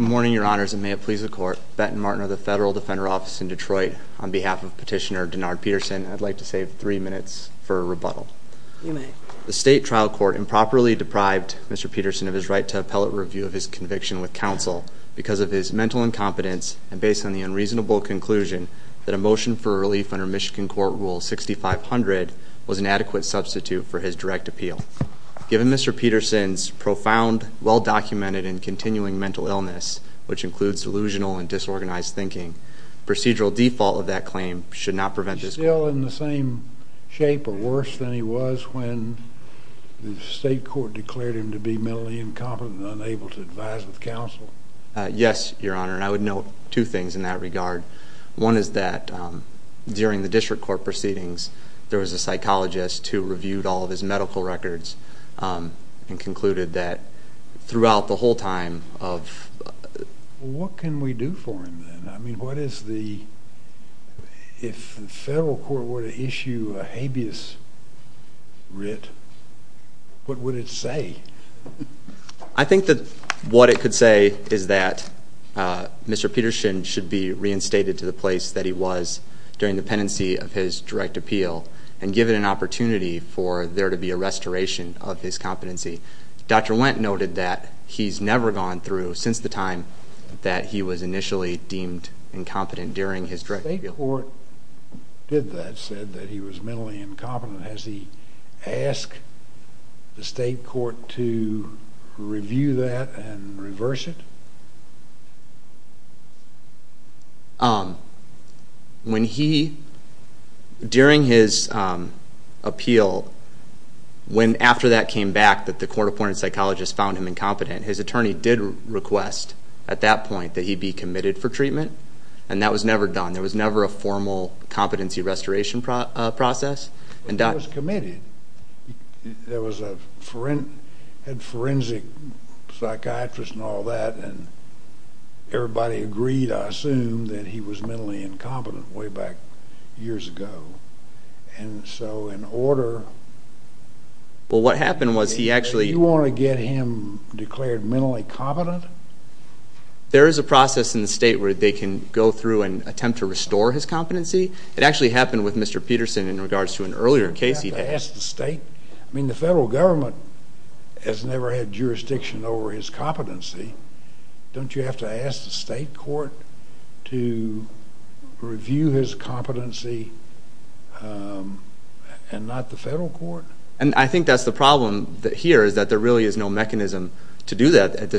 Good morning, Your Honors, and may it please the Court, Benton Martin of the Federal Defender Office in Detroit, on behalf of Petitioner Denard Peterson, I'd like to save three minutes for rebuttal. You may. The State Trial Court improperly deprived Mr. Peterson of his right to appellate review of his conviction with counsel because of his mental incompetence and based on the unreasonable conclusion that a motion for relief under Michigan Court Rule 6500 was an adequate substitute for his direct appeal. Given Mr. Peterson's profound, well-documented, and continuing mental illness, which includes delusional and disorganized thinking, procedural default of that claim should not prevent this court. He was still in the same shape or worse than he was when the State Court declared him to Yes, Your Honor, and I would note two things in that regard. One is that, during the district court proceedings, there was a psychologist who reviewed all of his medical records and concluded that throughout the whole time of... What can we do for him then? I mean, what is the... If the federal court were to issue a habeas writ, what would it say? I think that what it could say is that Mr. Peterson should be reinstated to the place that he was during the pendency of his direct appeal and given an opportunity for there to be a restoration of his competency. Dr. Wendt noted that he's never gone through, since the time that he was initially deemed incompetent during his direct appeal. When he, during his appeal, when after that came back that the court-appointed psychologist found him incompetent, his attorney did request, at that point, that he be committed for treatment, and that was never done. There was never a formal competency restoration process. But he was committed. There was a forensic psychiatrist and all that, and everybody agreed, I assume, that he was mentally incompetent way back years ago. And so, in order... Well, what happened was he actually... Did you want to get him declared mentally competent? There is a process in the state where they can go through and attempt to restore his competency. It actually happened with Mr. Peterson in regards to an earlier case he'd had. Don't you have to ask the state? I mean, the federal government has never had jurisdiction over his competency. Don't you have to ask the state court to review his competency and not the federal court? And I think that's the problem here, is that there really is no mechanism to do that at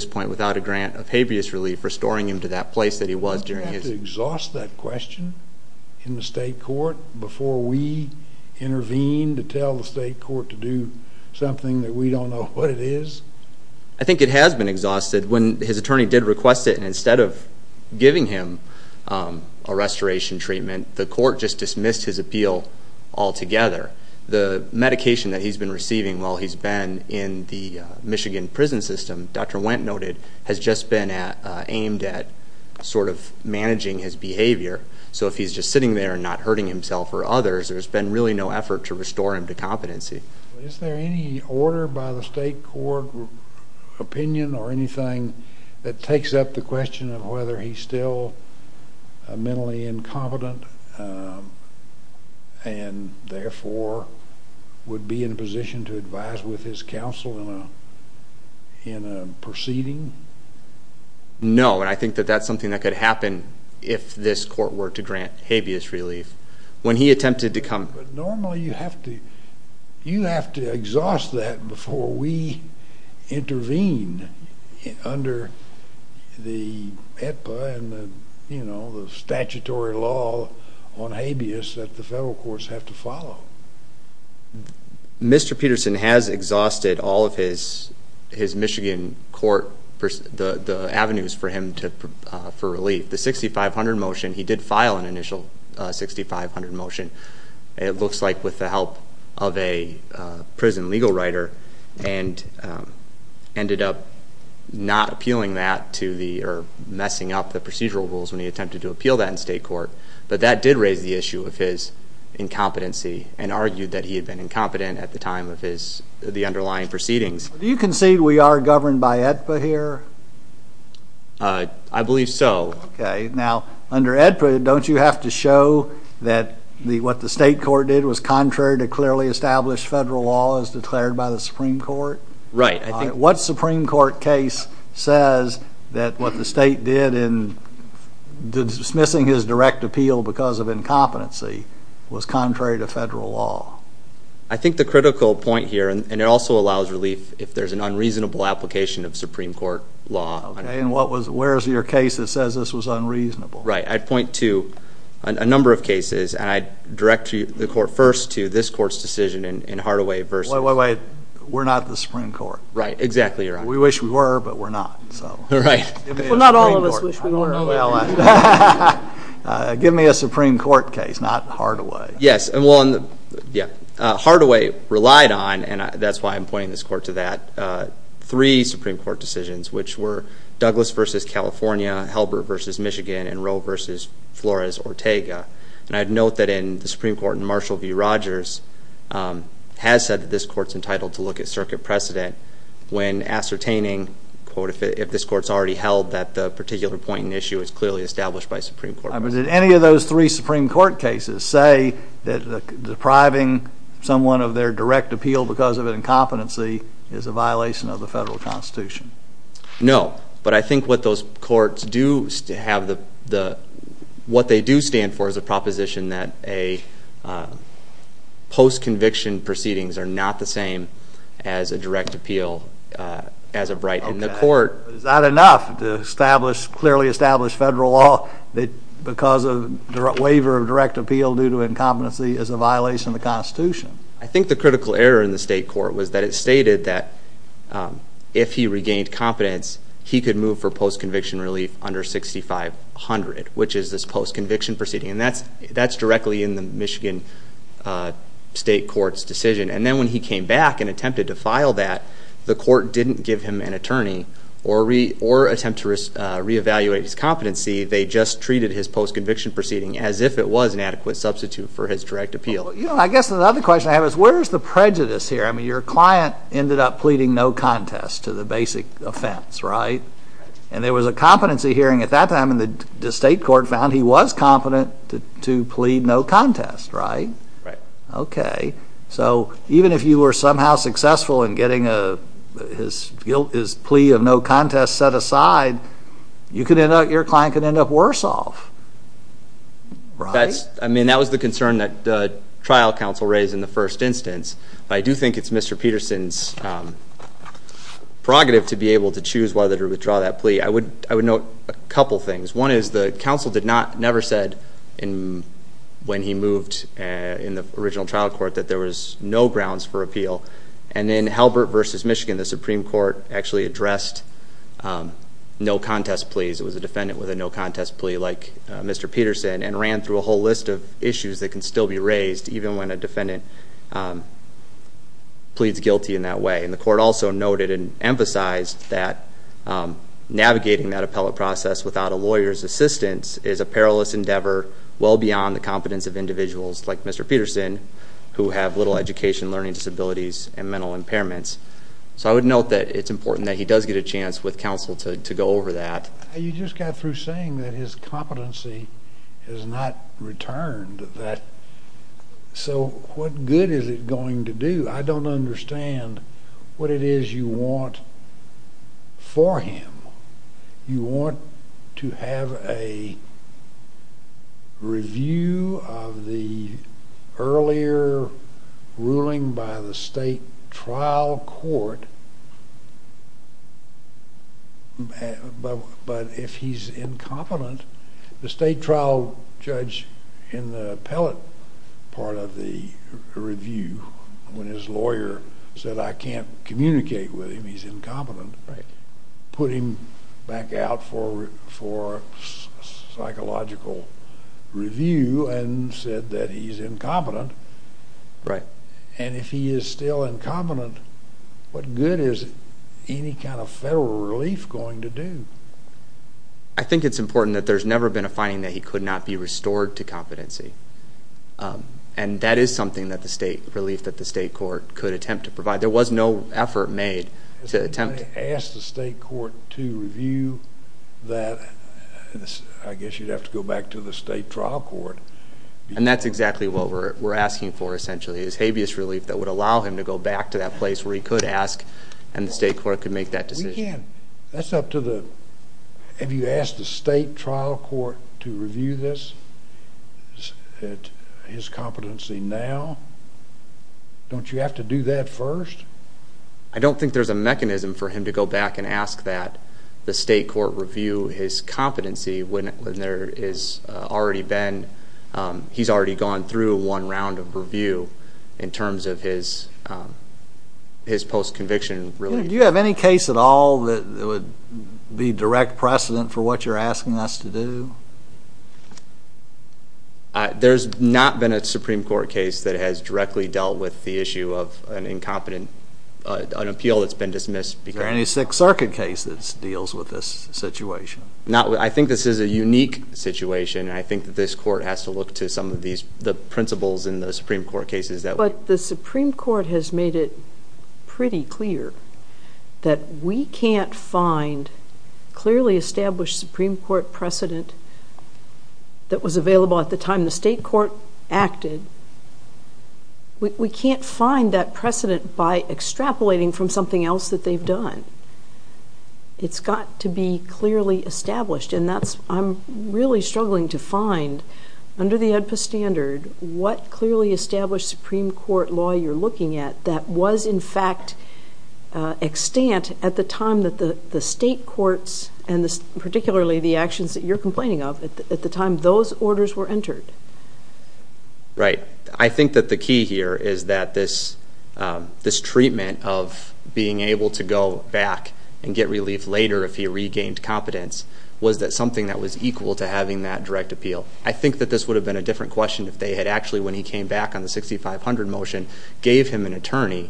a grant of habeas relief, restoring him to that place that he was during his... Don't you have to exhaust that question in the state court before we intervene to tell the state court to do something that we don't know what it is? I think it has been exhausted. When his attorney did request it, and instead of giving him a restoration treatment, the court just dismissed his appeal altogether. The medication that he's been receiving while he's been in the Michigan prison system, Dr. Peterson has just been aimed at sort of managing his behavior. So if he's just sitting there and not hurting himself or others, there's been really no effort to restore him to competency. Is there any order by the state court opinion or anything that takes up the question of whether he's still mentally incompetent and therefore would be in a position to advise with his counsel in a proceeding? No, and I think that that's something that could happen if this court were to grant habeas relief. When he attempted to come... But normally you have to exhaust that before we intervene under the EPA and the statutory So, Mr. Peterson has exhausted all of his Michigan court, the avenues for him to... For relief. The 6500 motion, he did file an initial 6500 motion, it looks like with the help of a prison legal writer, and ended up not appealing that to the... Or messing up the procedural rules when he attempted to appeal that in state court. But that did raise the issue of his incompetency and argued that he had been incompetent at the time of the underlying proceedings. Do you concede we are governed by AEDPA here? I believe so. Okay, now under AEDPA, don't you have to show that what the state court did was contrary to clearly established federal law as declared by the Supreme Court? Right, I think... And the fact that he didn't appeal because of incompetency was contrary to federal law. I think the critical point here, and it also allows relief if there's an unreasonable application of Supreme Court law... Okay, and where's your case that says this was unreasonable? Right, I'd point to a number of cases, and I'd direct the court first to this court's decision in Hardaway versus... Wait, wait, wait. We're not the Supreme Court. Right, exactly. You're right. We wish we were, but we're not, so... Right. Well, not all of us wish we were. Well, give me a Supreme Court case, not Hardaway. Yes, Hardaway relied on, and that's why I'm pointing this court to that, three Supreme Court decisions, which were Douglas versus California, Halbert versus Michigan, and Rowe versus Flores-Ortega. And I'd note that in the Supreme Court, in Marshall v. Rogers, has said that this court's entitled to look at circuit precedent when ascertaining, quote, if this court's already held that the particular point and issue is clearly established by a Supreme Court judge. But did any of those three Supreme Court cases say that depriving someone of their direct appeal because of an incompetency is a violation of the federal constitution? No, but I think what those courts do have the... What they do stand for is a proposition that a post-conviction proceedings are not the same as a direct appeal as a right, and the court... Not to establish, clearly establish federal law that because of waiver of direct appeal due to incompetency is a violation of the constitution. I think the critical error in the state court was that it stated that if he regained competence, he could move for post-conviction relief under 6500, which is this post-conviction proceeding. And that's directly in the Michigan state court's decision. And then when he came back and attempted to file that, the court didn't give him an attorney or attempt to reevaluate his competency. They just treated his post-conviction proceeding as if it was an adequate substitute for his direct appeal. Well, I guess another question I have is where's the prejudice here? I mean, your client ended up pleading no contest to the basic offense, right? And there was a competency hearing at that time, and the state court found he was competent to plead no contest, right? Right. Okay. So even if you were somehow successful in getting his plea of no contest set aside, you could end up, your client could end up worse off, right? That's, I mean, that was the concern that trial counsel raised in the first instance. But I do think it's Mr. Peterson's prerogative to be able to choose whether to withdraw that plea. I would note a couple things. One is the counsel did not, never said when he moved in the original trial court that there was no grounds for appeal. And in Halbert v. Michigan, the Supreme Court actually addressed no contest pleas. It was a defendant with a no contest plea like Mr. Peterson and ran through a whole list of issues that can still be raised even when a defendant pleads guilty in that way. And the court also noted and emphasized that navigating that appellate process without a lawyer's assistance is a perilous endeavor well beyond the competence of individuals like Mr. Peterson who have little education, learning disabilities, and mental impairments. So I would note that it's important that he does get a chance with counsel to go over that. You just got through saying that his competency has not returned. So what good is it going to do? I don't understand what it is you want for him. You want to have a review of the earlier ruling by the state trial court, but if he's incompetent, the state trial judge in the appellate part of the review when his lawyer said, I can't communicate with him, he's incompetent, put him back out for psychological review and said that he's incompetent, and if he is still incompetent, what good is any kind of federal relief going to do? I think it's important that there's never been a finding that he could not be restored to competency. And that is something that the state relief that the state court could attempt to provide. There was no effort made to attempt to... If they asked the state court to review that, I guess you'd have to go back to the state trial court. And that's exactly what we're asking for, essentially, is habeas relief that would allow him to go back to that place where he could ask and the state court could make that decision. That's up to the... Have you asked the state trial court to review this, his competency now? Don't you have to do that first? I don't think there's a mechanism for him to go back and ask that the state court review his competency when there is already been... He's already gone through one round of review in terms of his post-conviction relief. Do you have any case at all that would be direct precedent for what you're asking us to do? There's not been a Supreme Court case that has directly dealt with the issue of an incompetent... An appeal that's been dismissed because... Is there any Sixth Circuit case that deals with this situation? I think this is a unique situation. I think that this court has to look to some of the principles in the Supreme Court cases that... But the Supreme Court has made it pretty clear that we can't find clearly established Supreme Court precedent that was available at the time the state court acted. We can't find that precedent by extrapolating from something else that they've done. It's got to be clearly established and that's... I'm really struggling to find under the OEDPA standard what clearly established Supreme Court law you're looking at that was in fact extant at the time that the state courts and particularly the actions that you're complaining of at the time those orders were entered. Right. I think that the key here is that this treatment of being able to go back and get relief later if he regained competence was that something that was equal to having that direct appeal. I think that this would have been a different question if they had actually, when he came back on the 6500 motion, gave him an attorney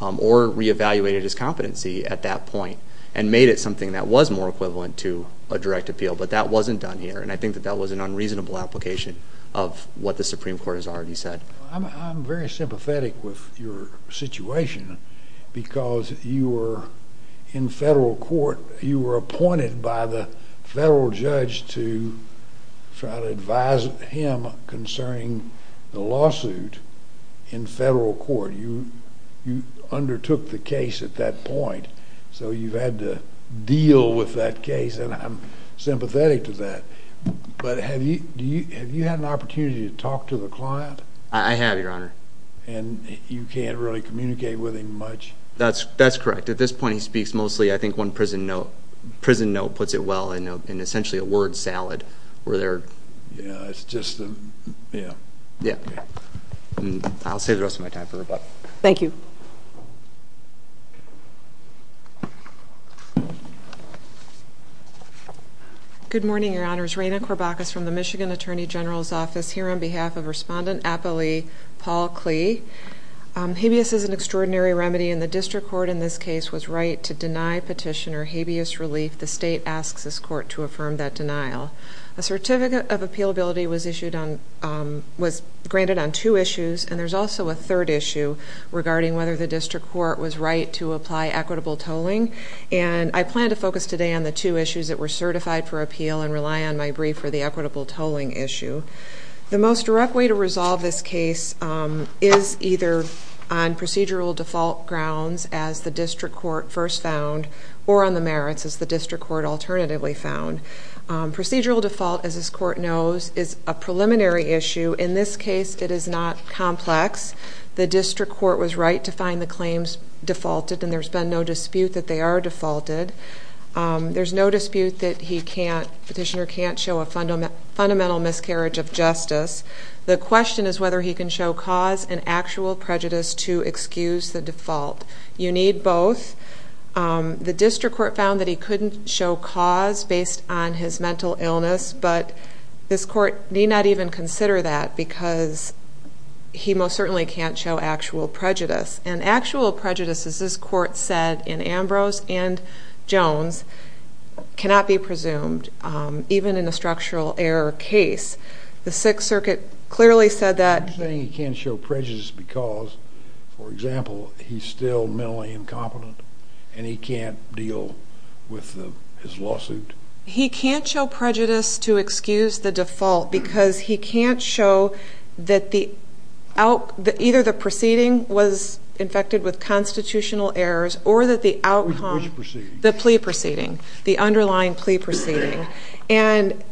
or re-evaluated his competency at that point and made it something that was more equivalent to a direct appeal. But that wasn't done here and I think that that was an unreasonable application of what the Supreme Court has already said. I'm very sympathetic with your situation because you were in federal court. You were appointed by the federal judge to try to advise him concerning the lawsuit in federal court. You undertook the case at that point so you've had to deal with that case and I'm sympathetic to that. But have you had an opportunity to talk to the client? I have, your honor. And you can't really communicate with him much? That's correct. At this point he speaks mostly, I think one prison note puts it well in essentially a word salad. Yeah, it's just, yeah. I'll save the rest of my time for Rebecca. Thank you. Good morning, your honors. Raina Corbacus from the Michigan Attorney General's Office here on behalf of Respondent Appalee, Paul Klee. Habeas is an extraordinary remedy and the district court in this case was right to deny petitioner habeas relief. The state asks this court to affirm that denial. A certificate of appealability was granted on two issues and there's also a third issue regarding whether the district court was right to apply equitable tolling. And I plan to focus today on the two issues that were certified for appeal and rely on my brief for the equitable tolling issue. The most direct way to resolve this case is either on procedural default grounds as the district court alternatively found. Procedural default, as this court knows, is a preliminary issue. In this case it is not complex. The district court was right to find the claims defaulted and there's been no dispute that they are defaulted. There's no dispute that he can't, petitioner can't show a fundamental miscarriage of justice. The question is whether he can show cause and actual prejudice to excuse the default. You need both. The district court found that he couldn't show cause based on his mental illness. But this court need not even consider that because he most certainly can't show actual prejudice. And actual prejudice, as this court said in Ambrose and Jones, cannot be presumed even in a structural error case. The Sixth Circuit clearly said that. You're saying he can't show prejudice because, for example, he's still mentally incompetent and he can't deal with his lawsuit? He can't show prejudice to excuse the default because he can't show that either the proceeding was infected with constitutional errors or that the outcome... Which proceeding? The plea proceeding. The underlying plea proceeding. And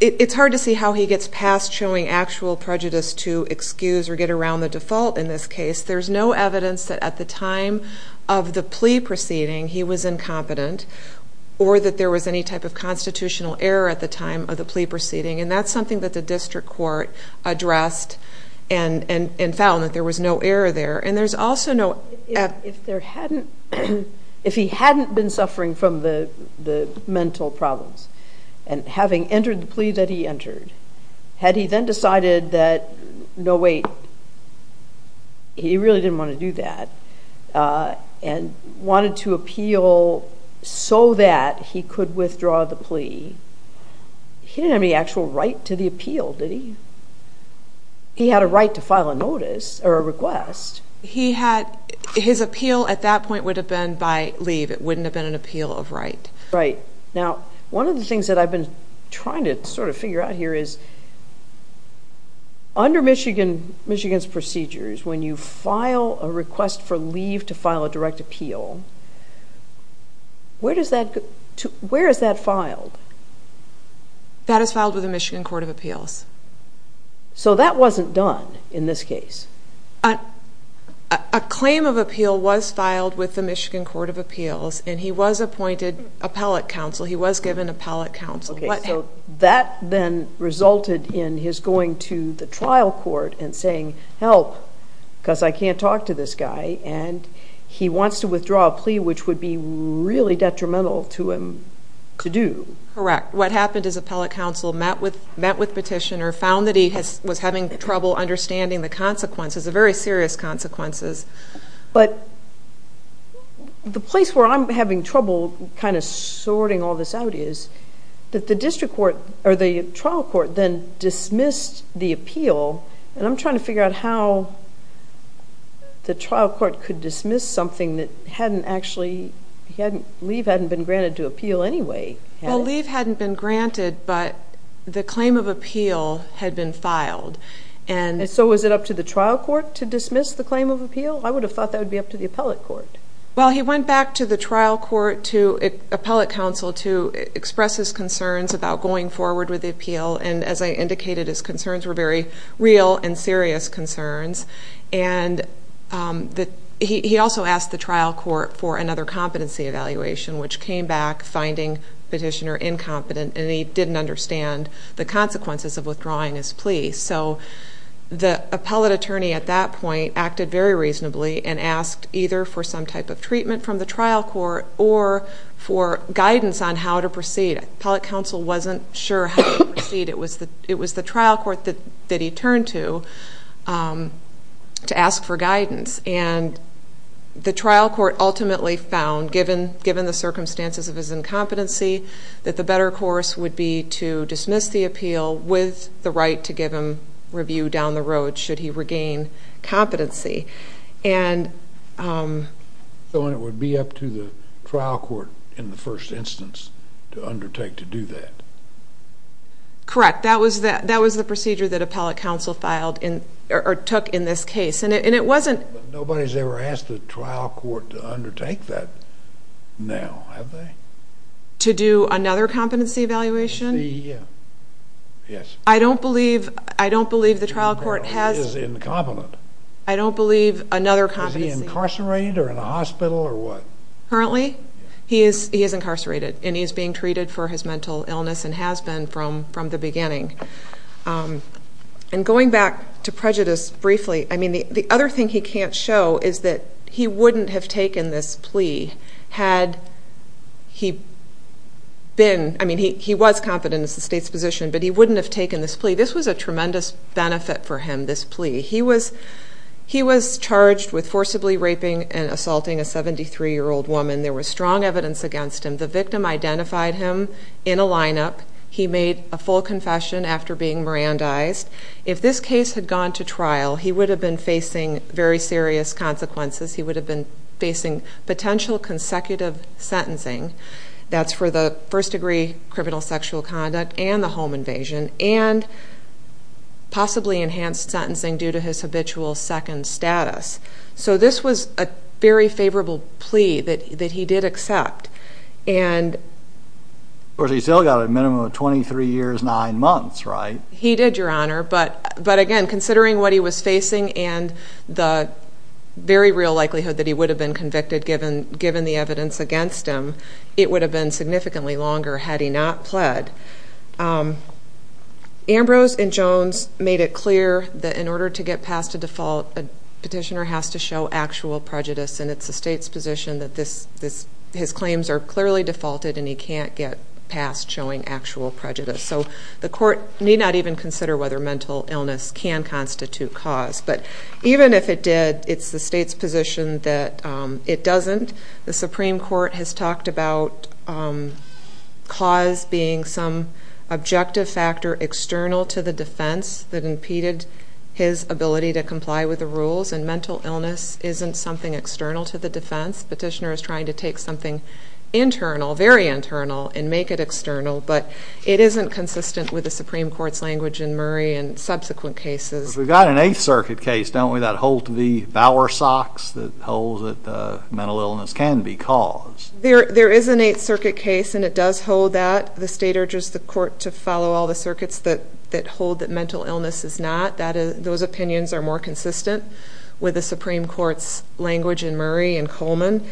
it's hard to see how he gets past showing actual prejudice to excuse or get around the default in this case. There's no evidence that at the time of the plea proceeding he was incompetent or that there was any type of constitutional error at the time of the plea proceeding. And that's something that the district court addressed and found that there was no error there. And there's also no... If he hadn't been suffering from the mental problems and having entered the plea that he entered, had he then decided that, no, wait, he really didn't want to do that and wanted to appeal so that he could withdraw the plea, he didn't have any actual right to the appeal, did he? He had a right to file a notice or a request. He had... His appeal at that point would have been by leave. It wouldn't have been an appeal of right. Right. Now, one of the things that I've been trying to sort of figure out here is, under Michigan's procedures, when you file a request for leave to file a direct appeal, where does that... Where is that filed? That is filed with the Michigan Court of Appeals. So that wasn't done in this case? A claim of appeal was filed with the Michigan Court of Appeals and he was appointed appellate counsel. He was given appellate counsel. Okay. So that then resulted in his going to the trial court and saying, help, because I can't talk to this guy. And he wants to withdraw a plea, which would be really detrimental to him to do. Correct. What happened is appellate counsel met with petitioner, found that he was having trouble understanding the consequences, the very serious consequences. But the place where I'm having trouble kind of sorting all this out is that the district court or the trial court then dismissed the appeal. And I'm trying to figure out how the trial court could dismiss something that hadn't actually... Leave hadn't been granted to appeal anyway. Leave hadn't been granted, but the claim of appeal had been filed. So was it up to the trial court to dismiss the claim of appeal? I would have thought that would be up to the appellate court. Well, he went back to the trial court, to appellate counsel to express his concerns about going forward with the appeal. And as I indicated, his concerns were very real and serious concerns. And he also asked the trial court for another competency evaluation, which came back finding petitioner incompetent and he didn't understand the consequences of withdrawing his plea. So the appellate attorney at that point acted very reasonably and asked either for some type of treatment from the trial court or for guidance on how to proceed. Appellate counsel wasn't sure how to proceed. It was the trial court that he turned to, to ask for guidance. And the trial court ultimately found, given the circumstances of his incompetency, that the better course would be to dismiss the appeal with the right to give him review down the road, should he regain competency. So it would be up to the trial court in the first instance to undertake to do that? Correct. That was the procedure that appellate counsel took in this case. Nobody's ever asked the trial court to undertake that now, have they? To do another competency evaluation? The, yes. I don't believe the trial court has... Is incompetent. I don't believe another competency... Is he incarcerated or in a hospital or what? Currently, he is incarcerated and he is being treated for his mental illness and has been from the beginning. And going back to prejudice briefly, I mean, the other thing he can't show is that he wouldn't have taken this plea had he been... I mean, he was competent as the state's position, but he wouldn't have taken this plea. This was a tremendous benefit for him, this plea. He was charged with forcibly raping and assaulting a 73-year-old woman. There was strong evidence against him. The victim identified him in a lineup. He made a full confession after being Mirandized. If this case had gone to trial, he would have been facing very serious consequences. He would have been facing potential consecutive sentencing. That's for the first degree criminal sexual conduct and the home invasion and possibly enhanced sentencing due to his habitual second status. So this was a very favorable plea that he did accept. And he still got a minimum of 23 years, nine months, right? He did, Your Honor. But again, considering what he was facing and the very real likelihood that he would have been convicted given the evidence against him, it would have been significantly longer had he not pled. Ambrose and Jones made it clear that in order to get past a default, a petitioner has to show actual prejudice. And it's the state's position that his claims are clearly defaulted and he can't get past showing actual prejudice. So the court need not even consider whether mental illness can constitute cause. But even if it did, it's the state's position that it doesn't. The Supreme Court has talked about cause being some objective factor external to the defense that impeded his ability to comply with the rules. And mental illness isn't something external to the defense. Petitioner is trying to take something internal, very internal, and make it external. But it isn't consistent with the Supreme Court's language in Murray and subsequent cases. We've got an Eighth Circuit case, don't we, that holds the bower socks that holds that mental illness can be cause? There is an Eighth Circuit case and it does hold that. The state urges the court to follow all the circuits that hold that mental illness is not. Those opinions are more consistent with the Supreme Court's language in Murray and Coleman.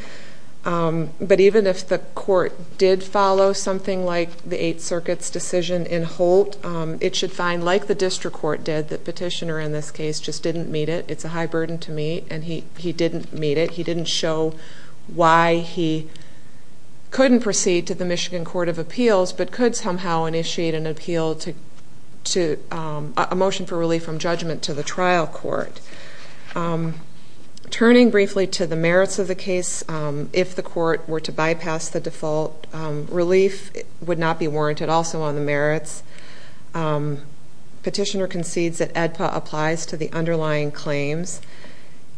But even if the court did follow something like the Eighth Circuit's decision in Holt, it should find, like the district court did, the petitioner in this case just didn't meet it. It's a high burden to meet and he didn't meet it. He didn't show why he couldn't proceed to the Michigan Court of Appeals but could somehow initiate an appeal to a motion for relief from judgment to the trial court. Turning briefly to the merits of the case, if the court were to bypass the default, relief would not be warranted also on the merits. Petitioner concedes that AEDPA applies to the underlying claims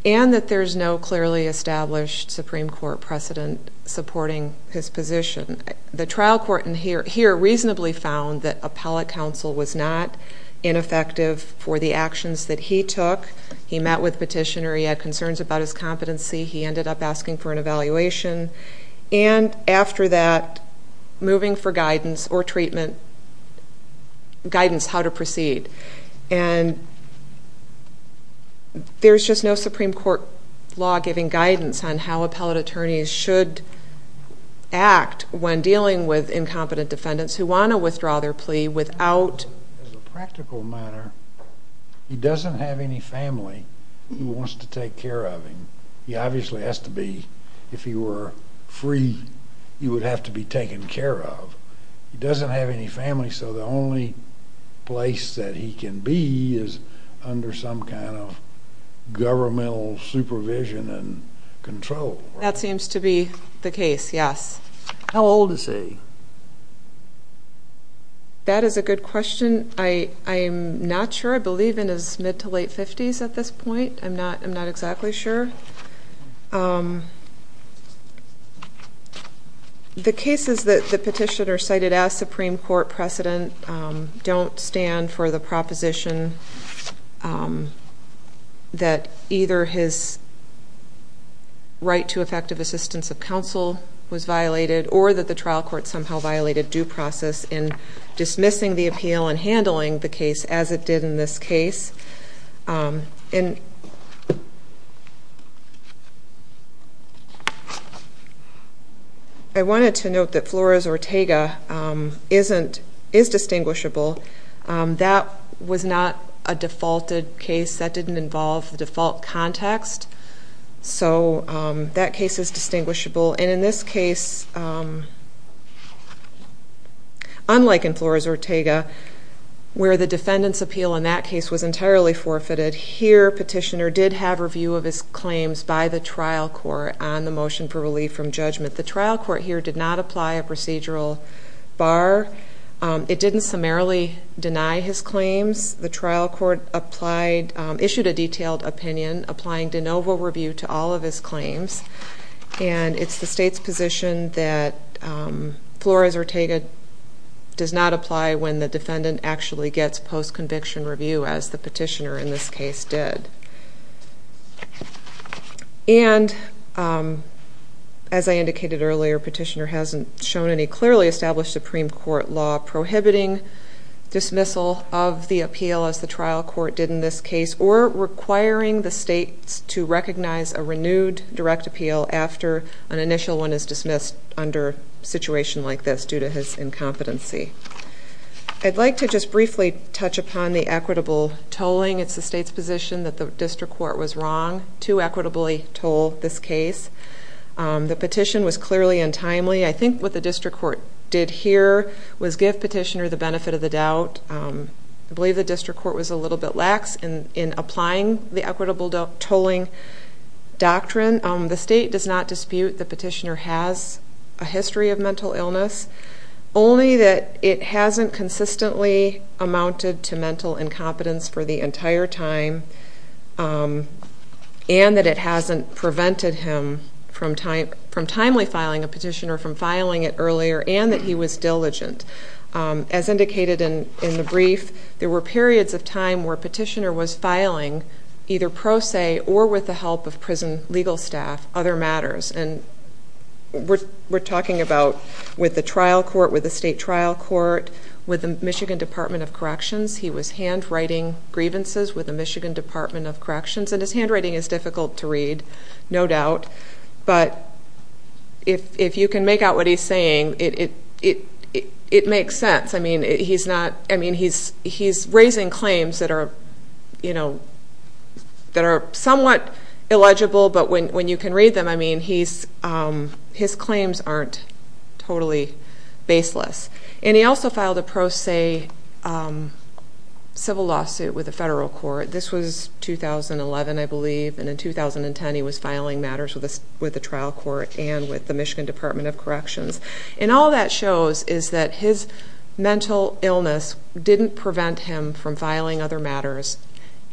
and that there's no clearly established Supreme Court precedent supporting his position. The trial court in here reasonably found that appellate counsel was not ineffective for the actions that he took. He met with petitioner. He had concerns about his competency. He ended up asking for an evaluation. And after that, moving for guidance or treatment, guidance how to proceed. And there's just no Supreme Court law giving guidance on how appellate attorneys should act when dealing with incompetent defendants who want to withdraw their plea without. As a practical matter, he doesn't have any family who wants to take care of him. He obviously has to be, if he were free, he would have to be taken care of. He doesn't have any family so the only place that he can be is under some kind of governmental supervision and control. That seems to be the case, yes. How old is he? That is a good question. I am not sure. I believe in his mid to late 50s at this point. I'm not exactly sure. The cases that the petitioner cited as Supreme Court precedent don't stand for the proposition that either his right to effective assistance of counsel was violated or that the trial court somehow violated due process in dismissing the appeal and handling the case as it did in this case. I wanted to note that Flores Ortega is distinguishable. That was not a defaulted case. That didn't involve the default context. So that case is distinguishable. And in this case, unlike in Flores Ortega, where the defendant's appeal in that case was entirely forfeited, here petitioner did have review of his claims by the trial court on the motion for relief from judgment. The trial court here did not apply a procedural bar. It didn't summarily deny his claims. The trial court issued a detailed opinion, applying de novo review to all of his claims. And it's the state's position that Flores Ortega does not apply when the defendant actually gets post-conviction review, as the petitioner in this case did. And as I indicated earlier, petitioner hasn't shown any clearly established Supreme Court law prohibiting dismissal of the appeal, as the trial court did in this case, or requiring the states to recognize a renewed direct appeal after an initial one is dismissed under a situation like this due to his incompetency. I'd like to just briefly touch upon the equitable tolling. It's the state's position that the district court was wrong to equitably toll this case. The petition was clearly untimely. I think what the district court did here was give petitioner the benefit of the doubt. I believe the district court was a little bit lax in applying the equitable tolling doctrine. The state does not dispute the petitioner has a history of mental illness, only that it hasn't consistently amounted to mental incompetence for the entire time, and that it hasn't prevented him from timely filing a petition or from filing it earlier, and that he was diligent. As indicated in the brief, there were periods of time where petitioner was filing either pro se or with the help of prison legal staff other matters. And we're talking about with the trial court, with the state trial court, with the Michigan Department of Corrections, he was handwriting grievances with the Michigan Department of Corrections. And his handwriting is difficult to read, no doubt. But if you can make out what he's saying, it makes sense. I mean, he's raising claims that are somewhat illegible, but when you can read them, I mean, his claims aren't totally baseless. And he also filed a pro se civil lawsuit with the federal court. This was 2011, I believe. And in 2010, he was filing matters with the trial court and with the Michigan Department of Corrections. And all that shows is that his mental illness didn't prevent him from filing other matters.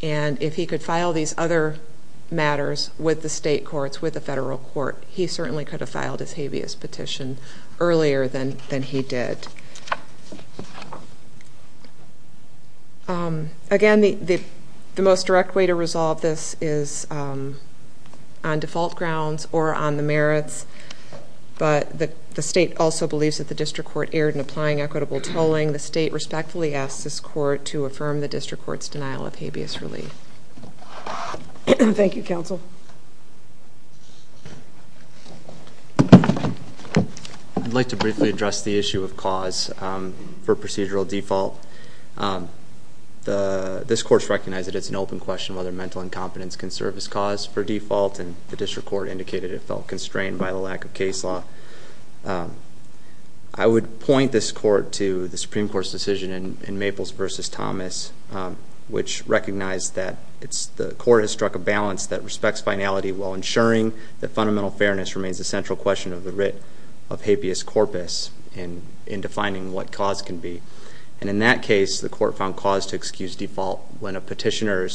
And if he could file these other matters with the state courts, with the federal court, he certainly could have filed his habeas petition earlier than he did. Again, the most direct way to resolve this is on default grounds or on the merits. But the state also believes that the district court erred in applying equitable tolling. The state respectfully asks this court to affirm the district court's denial of habeas relief. Thank you, counsel. I'd like to briefly address the issue of cause for procedural default. This court's recognized that it's an open question whether mental incompetence can serve as cause for default. And the district court indicated it felt constrained by the lack of case law. But I would point this court to the Supreme Court's decision in Maples versus Thomas, which recognized that the court has struck a balance that respects finality while ensuring that fundamental fairness remains the central question of the writ of habeas corpus in defining what cause can be. And in that case, the court found cause to excuse default. When a petitioner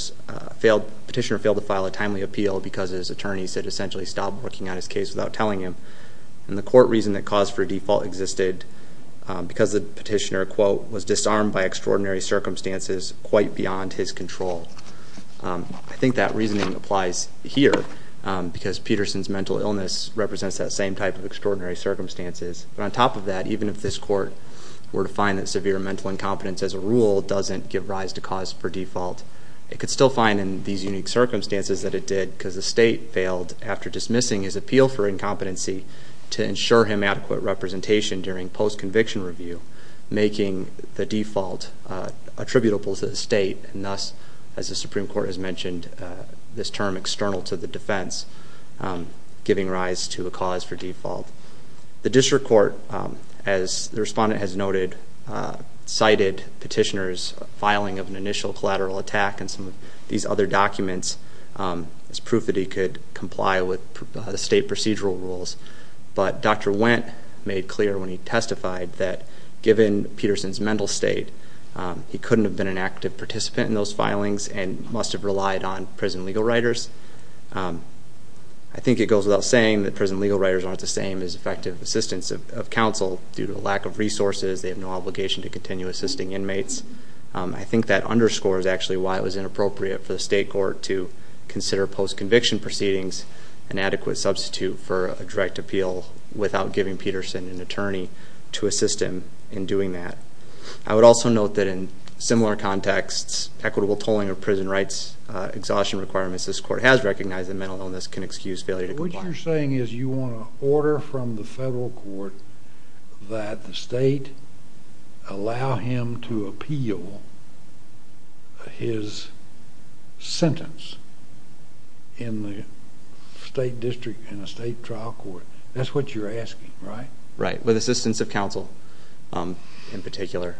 failed to file a timely appeal because his attorney said essentially stopped working on his case without telling him, and the court reasoned that cause for default existed because the petitioner, quote, was disarmed by extraordinary circumstances quite beyond his control. I think that reasoning applies here because Peterson's mental illness represents that same type of extraordinary circumstances. But on top of that, even if this court were to find that severe mental incompetence as a rule doesn't give rise to cause for default, it could still find in these unique circumstances that it did because the state failed after dismissing his appeal for incompetency to ensure him adequate representation during post-conviction review, making the default attributable to the state, and thus, as the Supreme Court has mentioned, this term external to the defense, giving rise to a cause for default. The district court, as the respondent has noted, cited petitioner's filing of an initial collateral attack and some of these other documents as proof that he could comply with the state procedural rules. But Dr. Wendt made clear when he testified that given Peterson's mental state, he couldn't have been an active participant in those filings and must have relied on prison legal writers. I think it goes without saying that prison legal writers aren't the same as effective assistants of counsel. Due to a lack of resources, they have no obligation to continue assisting inmates. I think that underscores actually why it was inappropriate for the state court to consider post-conviction proceedings an adequate substitute for a direct appeal without giving Peterson an attorney to assist him in doing that. I would also note that in similar contexts, equitable tolling of prison rights exhaustion requirements, this court has recognized that mental illness can excuse failure to comply. What you're saying is you want to order from the federal court that the state allow him to appeal his sentence in the state district, in a state trial court. That's what you're asking, right? Right. With assistance of counsel, in particular,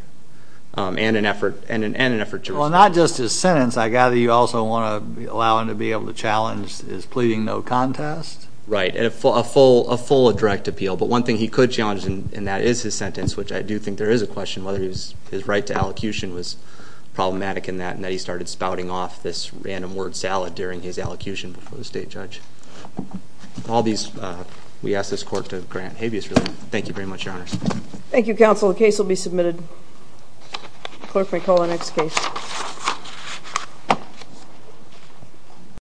and an effort to respond. Well, not just his sentence. I gather you also want to allow him to be able to challenge his pleading no contest? Right, a full direct appeal. But one thing he could challenge in that is his sentence, which I do think there is a right to allocution was problematic in that, and that he started spouting off this random word salad during his allocution before the state judge. We ask this court to grant habeas relief. Thank you very much, Your Honor. Thank you, counsel. The case will be submitted. Clerk, may I call the next case?